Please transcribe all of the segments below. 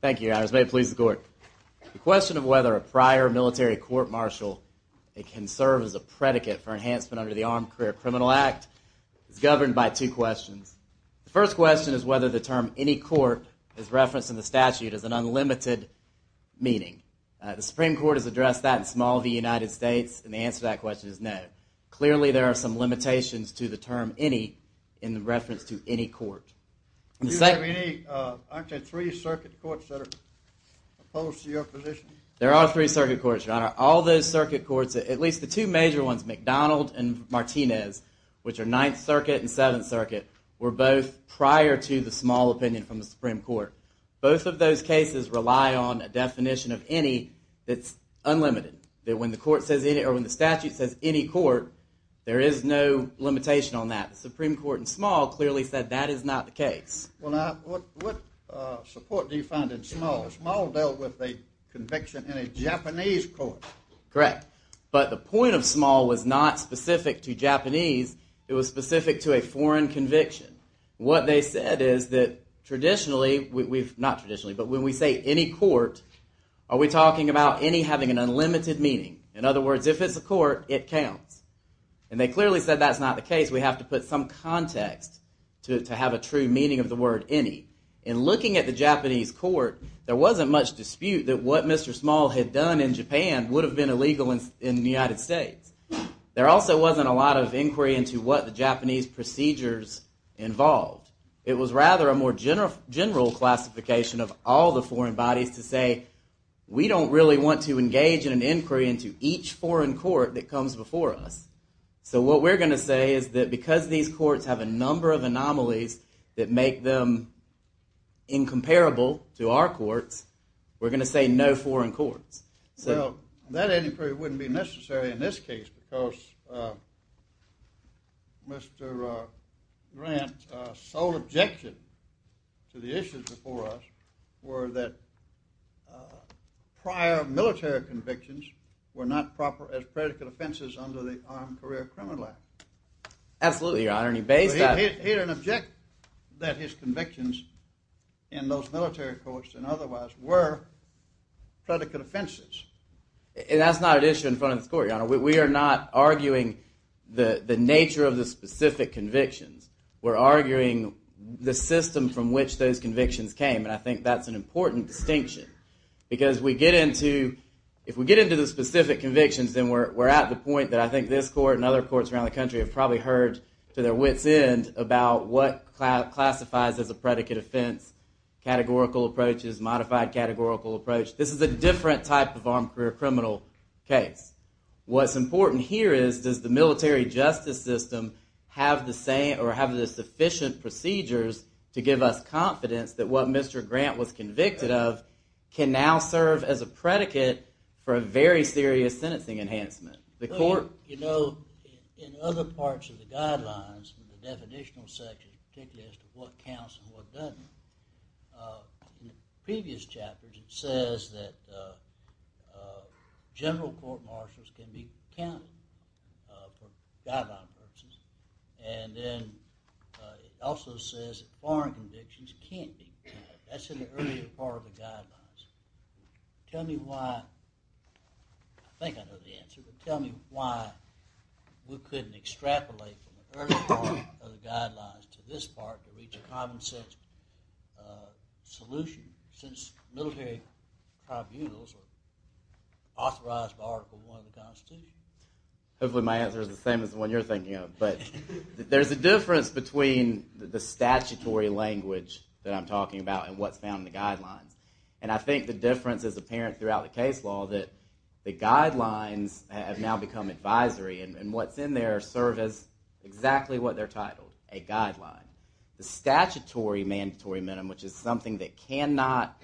Thank you, Your Honors. May it please the Court. The question of whether a prior military court-martial can serve as a predicate for enhancement under the Armed Career Criminal Act is governed by two questions. The first question is whether the term any court is referenced in the statute as an unlimited meaning. The Supreme Court has addressed that in small v. United States, and the answer to that question is no. Clearly, there are some limitations to the term any in reference to any court. Do you have any, I'm sorry, three circuit courts that are opposed to your position? There are three circuit courts, Your Honor. All those circuit courts, at least the two major ones, McDonald and Martinez, which are Ninth Circuit and Seventh Circuit, were both prior to the small opinion from the Supreme Court. Both of those cases rely on a definition of any that's unlimited. When the statute says any court, there is no limitation on that. The Supreme Court in small clearly said that is not the case. What support do you find in small? Small dealt with a conviction in a Japanese court. Correct, but the point of small was not specific to Japanese. It was specific to a foreign conviction. What they said is that traditionally, not traditionally, but when we say any court, are we talking about any having an unlimited meaning? In other words, if it's a court, it counts. And they clearly said that's not the case. We have to put some context to have a true meaning of the word any. In looking at the Japanese court, there wasn't much dispute that what Mr. Small had done in Japan would have been illegal in the United States. There also wasn't a lot of inquiry into what the Japanese procedures involved. It was rather a more general classification of all the foreign bodies to say, we don't really want to engage in an inquiry into each foreign court that comes before us. So what we're going to say is that because these courts have a number of anomalies that make them incomparable to our courts, we're going to say no foreign courts. That inquiry wouldn't be necessary in this case because Mr. Grant's sole objection to the issues before us were that prior military convictions were not proper as predicate offenses under the Armed Career Criminal Act. Absolutely, Your Honor. He didn't object that his convictions in those military courts and otherwise were predicate offenses. That's not an issue in front of this court, Your Honor. We are not arguing the nature of the specific convictions. We're arguing the system from which those convictions came, and I think that's an important distinction. Because if we get into the specific convictions, then we're at the point that I think this court and other courts around the country have probably heard to their wits' end about what classifies as a predicate offense, categorical approaches, modified categorical approach. This is a different type of armed career criminal case. What's important here is does the military justice system have the sufficient procedures to give us confidence that what Mr. Grant was convicted of can now serve as a predicate for a very serious sentencing enhancement? You know, in other parts of the guidelines, in the definitional section, particularly as to what counts and what doesn't, in previous chapters it says that general court martials can be counted for guideline purposes. And then it also says that foreign convictions can't be counted. That's in the earlier part of the guidelines. Tell me why, I think I know the answer, but tell me why we couldn't extrapolate from the earlier part of the guidelines to this part to reach a common sense solution since military tribunals are authorized by Article I of the Constitution. Hopefully my answer is the same as the one you're thinking of. But there's a difference between the statutory language that I'm talking about and what's found in the guidelines. And I think the difference is apparent throughout the case law that the guidelines have now become advisory and what's in there serve as exactly what they're titled, a guideline. The statutory mandatory minimum, which is something that cannot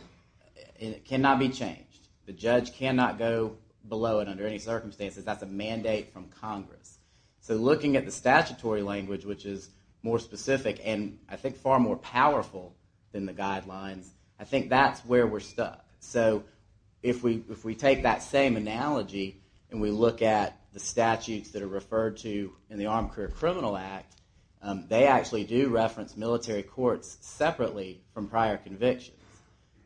be changed, the judge cannot go below it under any circumstances. That's a mandate from Congress. So looking at the statutory language, which is more specific and I think far more powerful than the guidelines, I think that's where we're stuck. So if we take that same analogy and we look at the statutes that are referred to in the Armed Career Criminal Act, they actually do reference military courts separately from prior convictions.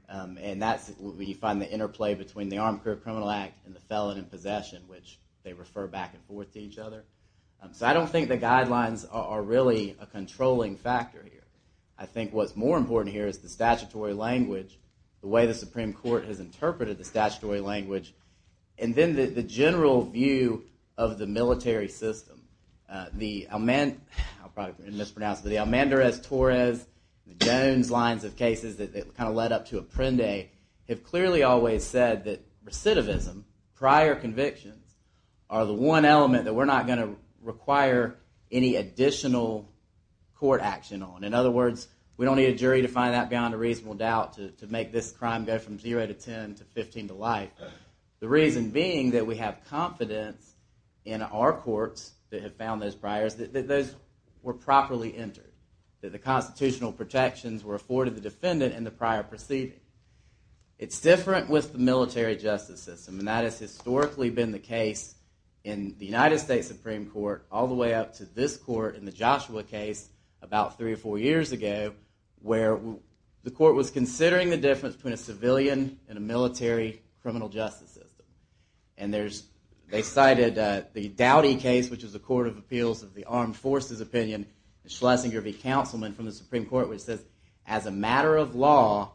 And that's where you find the interplay between the Armed Career Criminal Act and the felon in possession, which they refer back and forth to each other. So I don't think the guidelines are really a controlling factor here. I think what's more important here is the statutory language, the way the Supreme Court has interpreted the statutory language, and then the general view of the military system. I'll probably mispronounce it, but the Almandrez-Torres and the Jones lines of cases that led up to Apprende have clearly always said that recidivism, prior convictions, are the one element that we're not going to require any additional court action on. In other words, we don't need a jury to find that beyond a reasonable doubt to make this crime go from 0 to 10 to 15 to life. The reason being that we have confidence in our courts that have found those priors, that those were properly entered, that the constitutional protections were afforded the defendant in the prior proceeding. It's different with the military justice system, and that has historically been the case in the United States Supreme Court all the way up to this court in the Joshua case about three or four years ago, where the court was considering the difference between a civilian and a military criminal justice system. They cited the Dowdy case, which was the Court of Appeals of the Armed Forces opinion, and Schlesinger v. Councilman from the Supreme Court, which says, as a matter of law,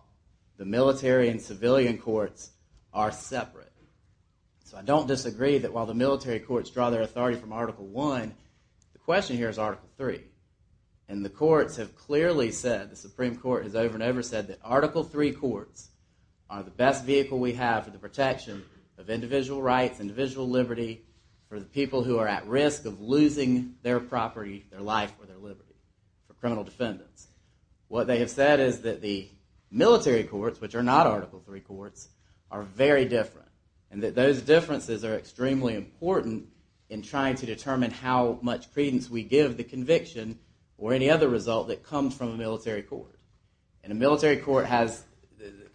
the military and civilian courts are separate. So I don't disagree that while the military courts draw their authority from Article I, the question here is Article III. And the courts have clearly said, the Supreme Court has over and over said, that Article III courts are the best vehicle we have for the protection of individual rights, individual liberty, for the people who are at risk of losing their property, their life, or their liberty for criminal defendants. What they have said is that the military courts, which are not Article III courts, are very different, and that those differences are extremely important in trying to determine how much credence we give the conviction or any other result that comes from a military court. And a military court has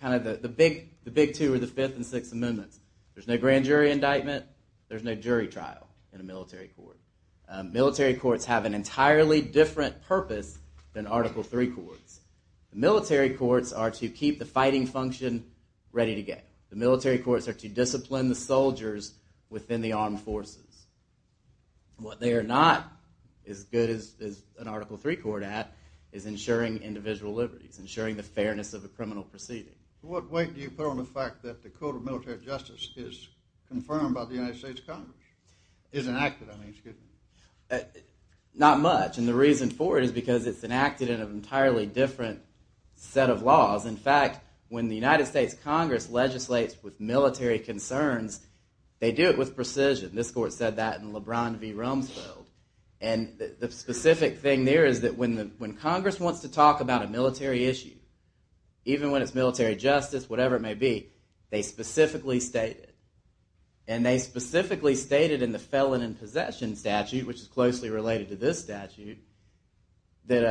kind of the big two or the fifth and sixth amendments. There's no grand jury indictment. There's no jury trial in a military court. Military courts have an entirely different purpose than Article III courts. Military courts are to keep the fighting function ready to go. The military courts are to discipline the soldiers within the armed forces. What they are not as good as an Article III court at is ensuring individual liberties, ensuring the fairness of a criminal proceeding. What weight do you put on the fact that the code of military justice is confirmed by the United States Congress? Is enacted, I mean, excuse me. Not much, and the reason for it is because it's enacted in an entirely different set of laws. In fact, when the United States Congress legislates with military concerns, they do it with precision. This court said that in LeBron v. Rumsfeld. And the specific thing there is that when Congress wants to talk about a military issue, even when it's military justice, whatever it may be, they specifically state it. And they specifically stated in the Felon in Possession statute, which is closely related to this statute, that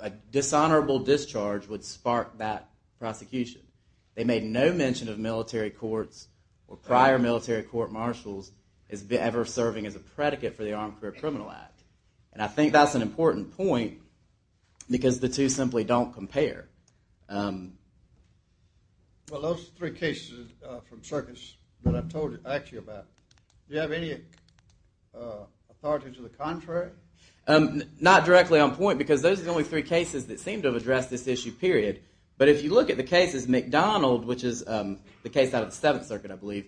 a dishonorable discharge would spark that prosecution. They made no mention of military courts or prior military court marshals as ever serving as a predicate for the Armed Career Criminal Act. And I think that's an important point because the two simply don't compare. Well, those three cases from circus that I've asked you about, do you have any authority to the contrary? Not directly on point because those are the only three cases that seem to have addressed this issue, period. But if you look at the cases, McDonald, which is the case out of the Seventh Circuit, I believe,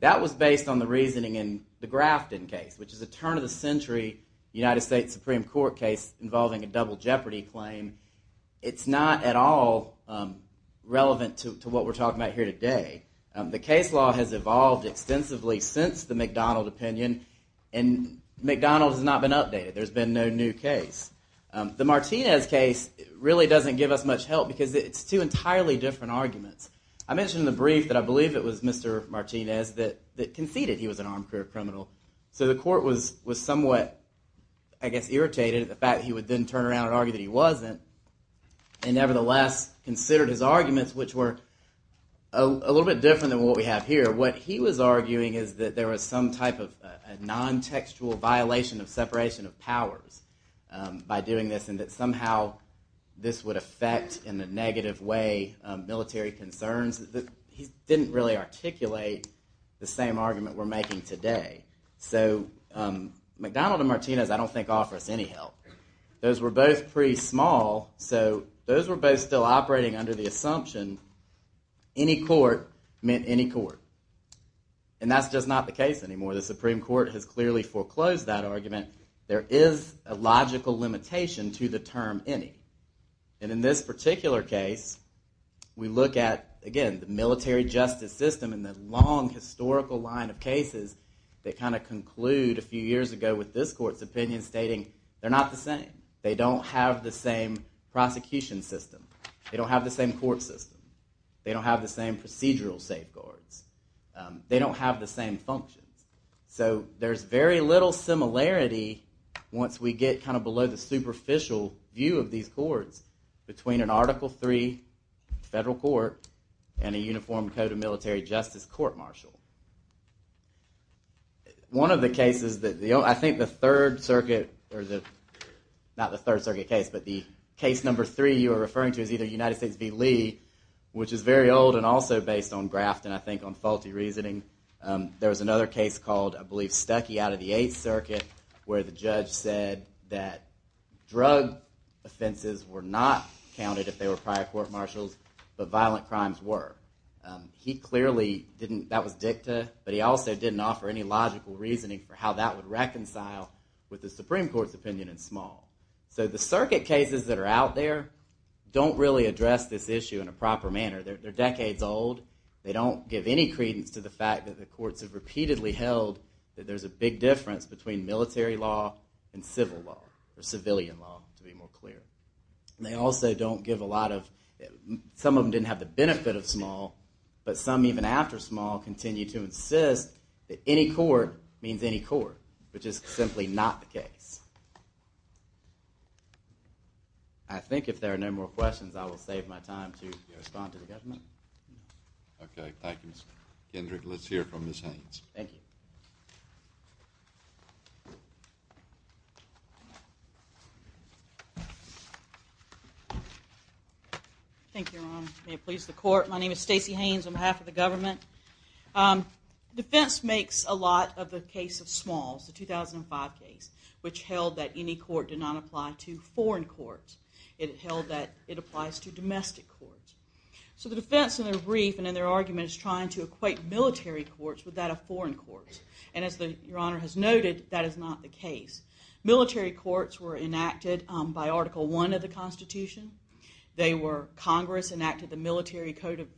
that was based on the reasoning in the Grafton case, which is a turn of the century United States Supreme Court case involving a double jeopardy claim. It's not at all relevant to what we're talking about here today. The case law has evolved extensively since the McDonald opinion, and McDonald has not been updated. There's been no new case. The Martinez case really doesn't give us much help because it's two entirely different arguments. I mentioned in the brief that I believe it was Mr. Martinez that conceded he was an armed career criminal. So the court was somewhat, I guess, irritated at the fact that he would then turn around and argue that he wasn't, and nevertheless considered his arguments, which were a little bit different than what we have here. What he was arguing is that there was some type of a non-textual violation of separation of powers by doing this, and that somehow this would affect in a negative way military concerns. He didn't really articulate the same argument we're making today. So McDonald and Martinez I don't think offer us any help. Those were both pretty small, so those were both still operating under the assumption any court meant any court, and that's just not the case anymore. The Supreme Court has clearly foreclosed that argument. There is a logical limitation to the term any, and in this particular case, we look at, again, the military justice system and the long historical line of cases that kind of conclude a few years ago with this court's opinion stating they're not the same. They don't have the same prosecution system. They don't have the same court system. They don't have the same procedural safeguards. They don't have the same functions. So there's very little similarity once we get kind of below the superficial view of these courts between an Article III federal court and a uniform code of military justice court-martial. One of the cases, I think the Third Circuit, not the Third Circuit case, but the case number three you are referring to is either United States v. Lee, which is very old and also based on Grafton, I think, on faulty reasoning. There was another case called, I believe, Stuckey out of the Eighth Circuit, where the judge said that drug offenses were not counted if they were prior court-martials, but violent crimes were. That was dicta, but he also didn't offer any logical reasoning for how that would reconcile with the Supreme Court's opinion in Small. So the Circuit cases that are out there don't really address this issue in a proper manner. They're decades old. They don't give any credence to the fact that the courts have repeatedly held that there's a big difference between military law and civil law, or civilian law, to be more clear. They also don't give a lot of, some of them didn't have the benefit of Small, but some, even after Small, continue to insist that any court means any court, which is simply not the case. I think if there are no more questions, I will save my time to respond to the government. Okay, thank you, Mr. Kendrick. Let's hear from Ms. Haynes. Thank you, Your Honor. May it please the Court. My name is Stacey Haynes on behalf of the government. Defense makes a lot of the case of Smalls, the 2005 case, which held that any court did not apply to foreign courts. It held that it applies to domestic courts. So the defense in their brief and in their argument is trying to equate military courts with that of foreign courts. And as Your Honor has noted, that is not the case. Military courts were enacted by Article I of the Constitution. Congress enacted the Military Code of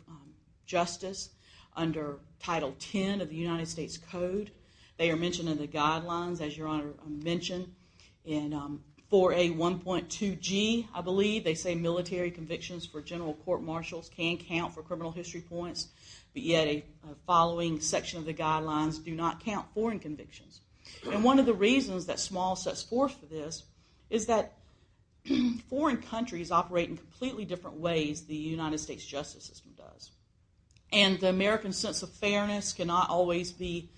Justice under Title X of the United States Code. They are mentioned in the guidelines, as Your Honor mentioned, in 4A1.2G, I believe. They say military convictions for general court marshals can count for criminal history points, but yet a following section of the guidelines do not count foreign convictions. And one of the reasons that Smalls sets forth for this is that foreign countries operate in completely different ways than the United States justice system does. And the American sense of fairness cannot always be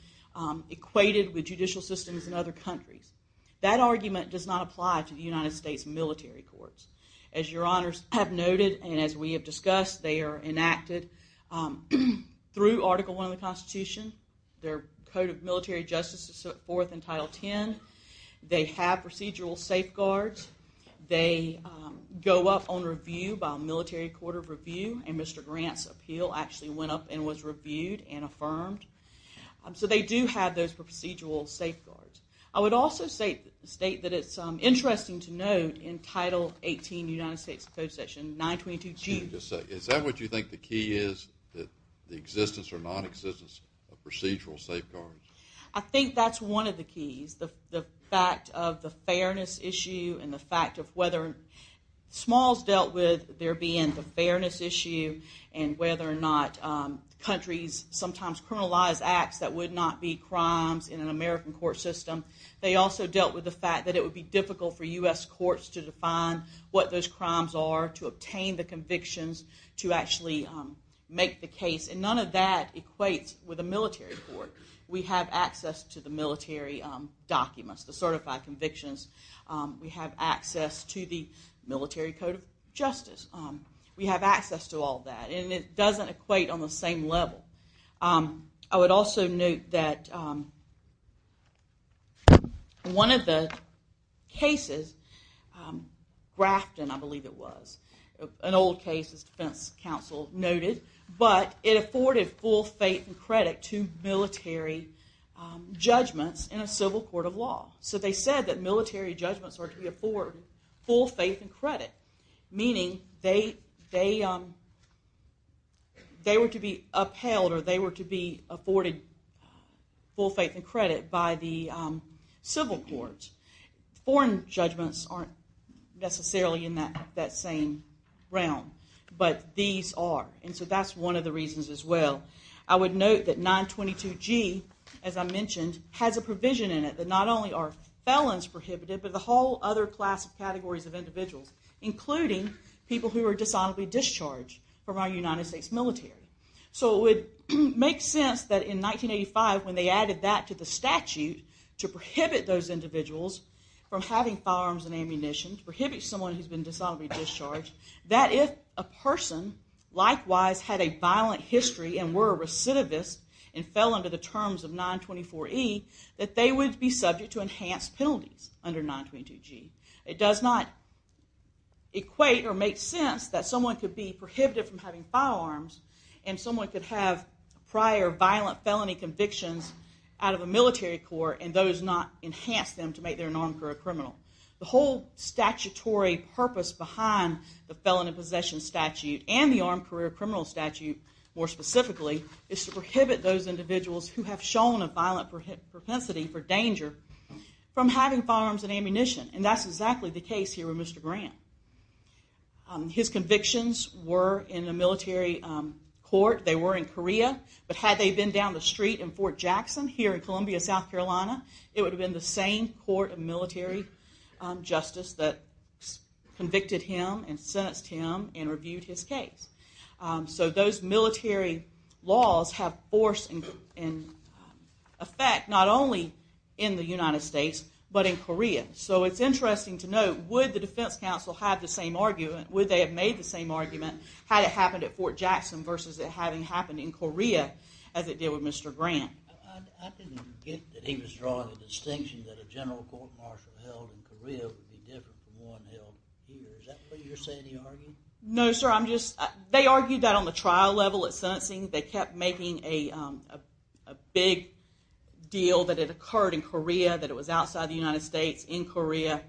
equated with judicial systems in other countries. That argument does not apply to the United States military courts. As Your Honors have noted and as we have discussed, they are enacted through Article I of the Constitution. Their Code of Military Justice is set forth in Title X. They have procedural safeguards. They go up on review by a military court of review, and Mr. Grant's appeal actually went up and was reviewed and affirmed. So they do have those procedural safeguards. I would also state that it's interesting to note in Title XVIII United States Code section 922G. Is that what you think the key is, the existence or nonexistence of procedural safeguards? I think that's one of the keys, the fact of the fairness issue and the fact of whether Smalls dealt with there being the fairness issue and whether or not countries sometimes criminalize acts that would not be crimes in an American court system. They also dealt with the fact that it would be difficult for U.S. courts to define what those crimes are, to obtain the convictions, to actually make the case. And none of that equates with a military court. We have access to the military documents, the certified convictions. We have access to the military code of justice. We have access to all that, and it doesn't equate on the same level. I would also note that one of the cases, Grafton I believe it was, an old case as defense counsel noted, but it afforded full faith and credit to military judgments in a civil court of law. So they said that military judgments are to be afforded full faith and credit. Meaning they were to be upheld or they were to be afforded full faith and credit by the civil courts. Foreign judgments aren't necessarily in that same realm. But these are, and so that's one of the reasons as well. I would note that 922G, as I mentioned, has a provision in it that not only are felons prohibited, but the whole other class of categories of individuals, including people who are dishonorably discharged from our United States military. So it would make sense that in 1985 when they added that to the statute to prohibit those individuals from having firearms and ammunition, to prohibit someone who has been or were a recidivist and fell under the terms of 924E, that they would be subject to enhanced penalties under 922G. It does not equate or make sense that someone could be prohibited from having firearms and someone could have prior violent felony convictions out of a military court and those not enhance them to make them an armed career criminal. The whole statutory purpose behind the Felon in Possession Statute and the Armed Career Criminal Statute, more specifically, is to prohibit those individuals who have shown a violent propensity for danger from having firearms and ammunition. And that's exactly the case here with Mr. Grant. His convictions were in a military court. They were in Korea, but had they been down the street in Fort Jackson here in Columbia, South Carolina, it would have been the same court, a military justice that convicted him and sentenced him and reviewed his case. So those military laws have force and effect not only in the United States, but in Korea. So it's interesting to note, would the defense counsel have the same argument, would they have made the same argument had it happened at Fort Jackson versus it having happened in Korea as it did with Mr. Grant? I didn't get that he was drawing a distinction that a general court martial held in Korea would be different from one held here. Is that what you're saying he argued? No, sir. They argued that on the trial level at sentencing. They kept making a big deal that it occurred in Korea, that it was outside the United States, in Korea.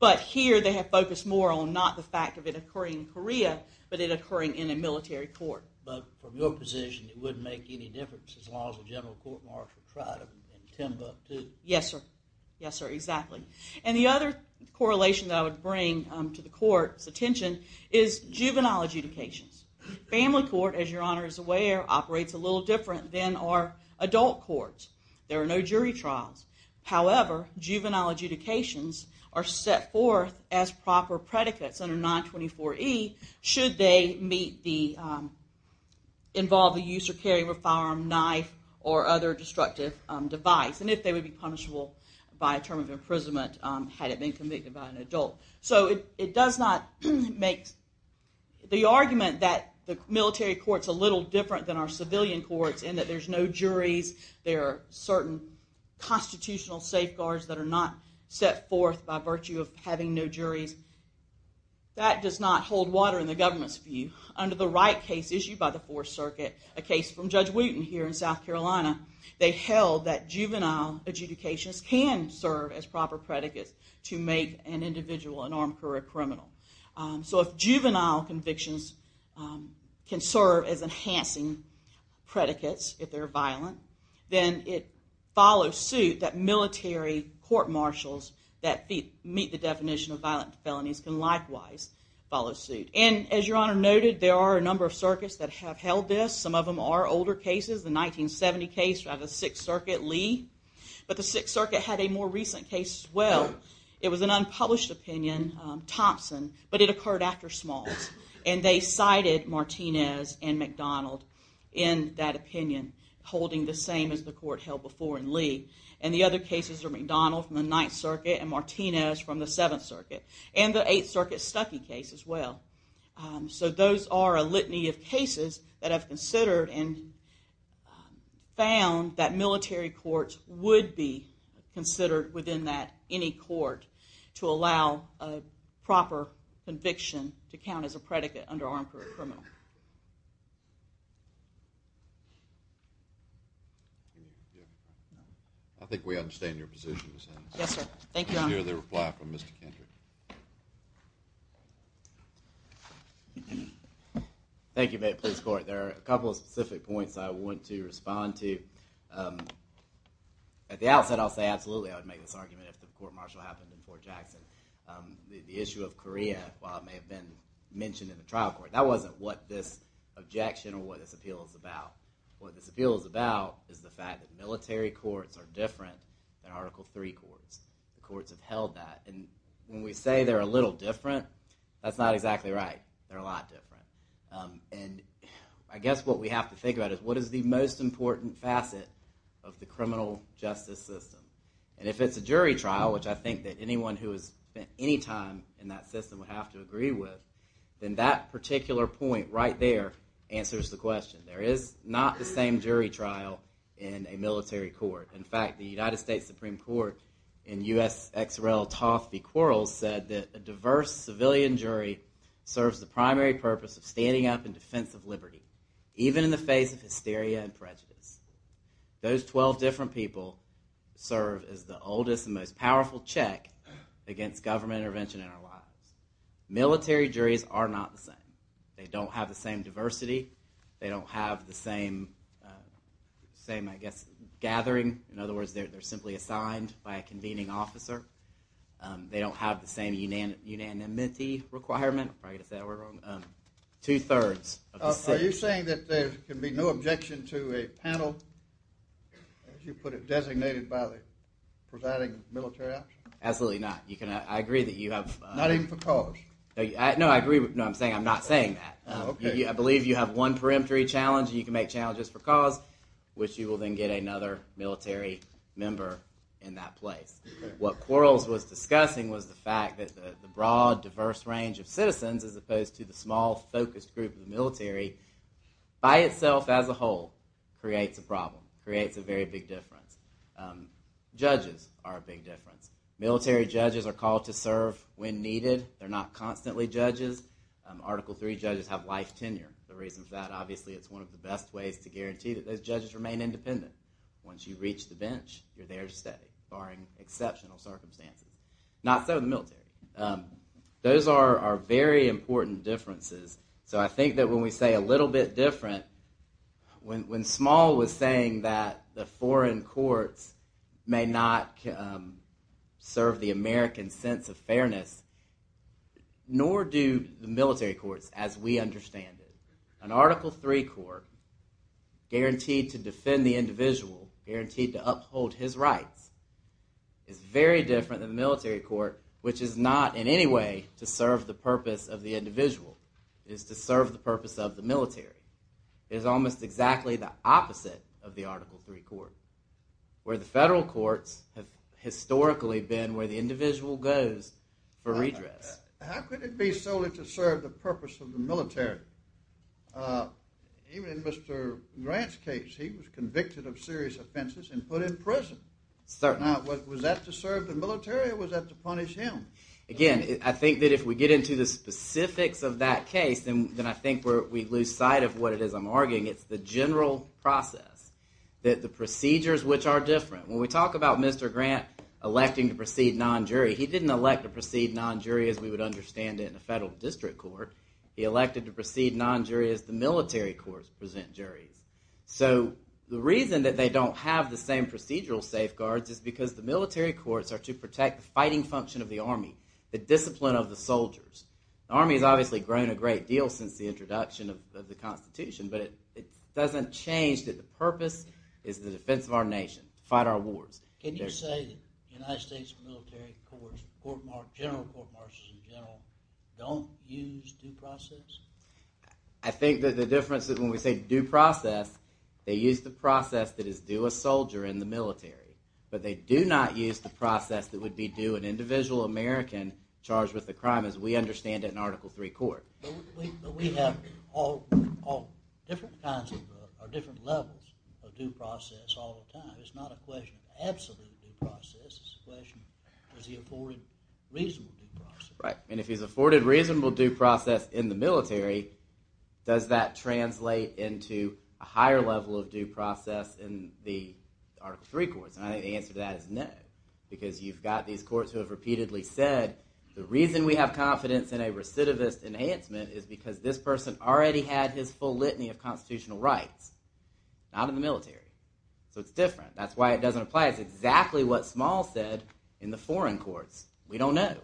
But here they have focused more on not the fact of it occurring in Korea, but it occurring in a military court. But from your position, it wouldn't make any difference as long as a general court martial tried them in Timbuktu. Yes, sir. Yes, sir, exactly. And the other correlation that I would bring to the court's attention is juvenile adjudications. Family court, as your Honor is aware, operates a little different than our adult courts. There are no jury trials. However, juvenile adjudications are set forth as proper predicates under 924E should they involve the use or carry of a firearm, knife, or other destructive device. And if they would be punishable by a term of imprisonment had it been committed by an adult. So it does not make the argument that the military court is a little different than our civilian courts in that there's no juries. There are certain constitutional safeguards that are not set forth by virtue of having no juries. That does not hold water in the government's view. Under the Wright case issued by the Fourth Circuit, a case from Judge Wooten here in South Carolina, they held that juvenile adjudications can serve as proper predicates to make an individual an armed career criminal. So if juvenile convictions can serve as enhancing predicates if they're violent, then it follows suit that military court marshals that meet the definition of violent felonies can likewise follow suit. And as your Honor noted, there are a number of circuits that have held this. Some of them are older cases. The 1970 case by the Sixth Circuit, Lee. But the Sixth Circuit had a more recent case as well. It was an unpublished opinion, Thompson, but it occurred after Smalls. And they cited Martinez and McDonald in that opinion, holding the same as the court held before in Lee. And the other cases are McDonald from the Ninth Circuit and Martinez from the Seventh Circuit. And the Eighth Circuit Stuckey case as well. So those are a litany of cases that have considered and found that military courts would be considered within any court to allow a proper conviction to count as a predicate under armed career criminal. I think we understand your position. Yes, sir. Thank you, Your Honor. Let's hear the reply from Mr. Kendrick. Thank you, Mayor of the Police Court. There are a couple of specific points I want to respond to. At the outset I'll say absolutely I would make this argument if the court marshal happened in Fort Jackson. The issue of Korea, while it may have been mentioned in the trial court, that wasn't what this objection or what this appeal is about. What this appeal is about is the fact that military courts are different than Article III courts. The courts have held that. And when we say they're a little different, that's not exactly right. They're a lot different. And I guess what we have to think about is what is the most important facet of the criminal justice system? And if it's a jury trial, which I think that anyone who has spent any time in that system would have to agree with, then that particular point right there answers the question. There is not the same jury trial in a military court. In fact, the United States Supreme Court in U.S.X.R.L. Toth v. Quarles said that a diverse civilian jury serves the primary purpose of standing up in defense of liberty, even in the face of hysteria and prejudice. Those 12 different people serve as the oldest and most powerful check against government intervention in our lives. Military juries are not the same. They don't have the same diversity. They don't have the same, I guess, gathering. In other words, they're simply assigned by a convening officer. They don't have the same unanimity requirement. I'm probably going to say that word wrong. Two-thirds. Are you saying that there can be no objection to a panel, as you put it, designated by the presiding military officer? Absolutely not. I agree that you have... Not even for cause? No, I agree. No, I'm saying I'm not saying that. I believe you have one peremptory challenge and you can make challenges for cause, which you will then get another military member in that place. What Quarles was discussing was the fact that the broad, diverse range of citizens, as opposed to the small, focused group of the military, by itself, as a whole, creates a problem, creates a very big difference. Judges are a big difference. Military judges are called to serve when needed. They're not constantly judges. Article III judges have life tenure. The reason for that, obviously, it's one of the best ways to guarantee that those judges remain independent. Once you reach the bench, you're there to stay, barring exceptional circumstances. Not so in the military. Those are very important differences. So I think that when we say a little bit different, when Small was saying that the foreign courts may not serve the American sense of fairness, nor do the military courts, as we understand it. An Article III court, guaranteed to defend the individual, guaranteed to uphold his rights, is very different than the military court, which is not in any way to serve the purpose of the individual. It is to serve the purpose of the military. It is almost exactly the opposite of the Article III court, where the federal courts have historically been where the individual goes for redress. How could it be solely to serve the purpose of the military? Even in Mr. Grant's case, he was convicted of serious offenses and put in prison. Now, was that to serve the military or was that to punish him? Again, I think that if we get into the specifics of that case, then I think we lose sight of what it is I'm arguing. It's the general process. The procedures which are different. When we talk about Mr. Grant electing to proceed non-jury, he didn't elect to proceed non-jury as we would understand it in a federal district court. He elected to proceed non-jury as the military courts present juries. The reason that they don't have the same procedural safeguards is because the military courts are to protect the fighting function of the army, the discipline of the soldiers. The army has obviously grown a great deal since the introduction of the Constitution, but it doesn't change that the purpose is the defense of our nation, to fight our wars. Can you say that the United States military courts, general court marches in general, don't use due process? I think that the difference is when we say due process, they use the process that is due a soldier in the military, but they do not use the process that would be due an individual American charged with a crime as we understand it in Article III court. But we have different levels of due process all the time. It's not a question of absolute due process, it's a question of is he afforded reasonable due process. Right, and if he's afforded reasonable due process in the military, does that translate into a higher level of due process in the Article III courts? And I think the answer to that is no, because you've got these courts who have repeatedly said, the reason we have confidence in a recidivist enhancement is because this person already had his full litany of constitutional rights, not in the military. So it's different, that's why it doesn't apply, it's exactly what Small said in the foreign courts. We don't know.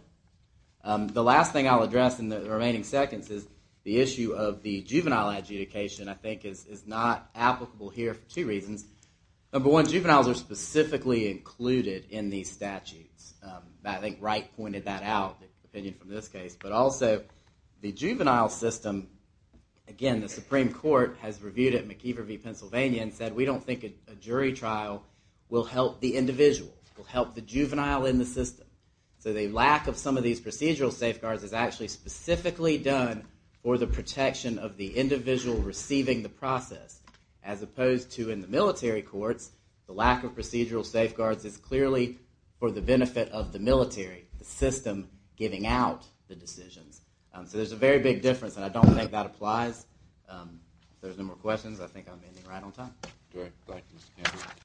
The last thing I'll address in the remaining seconds is the issue of the juvenile adjudication I think is not applicable here for two reasons. Number one, juveniles are specifically included in these statutes. I think Wright pointed that out, the opinion from this case, but also the juvenile system, again the Supreme Court has reviewed it in McIver v. Pennsylvania and said we don't think a jury trial will help the individual, will help the juvenile in the system. So the lack of some of these procedural safeguards is actually specifically done for the protection of the individual receiving the process, as opposed to in the military courts, the lack of procedural safeguards is clearly for the benefit of the military, the system giving out the decisions. So there's a very big difference and I don't think that applies. If there's no more questions, I think I'm ending right on time.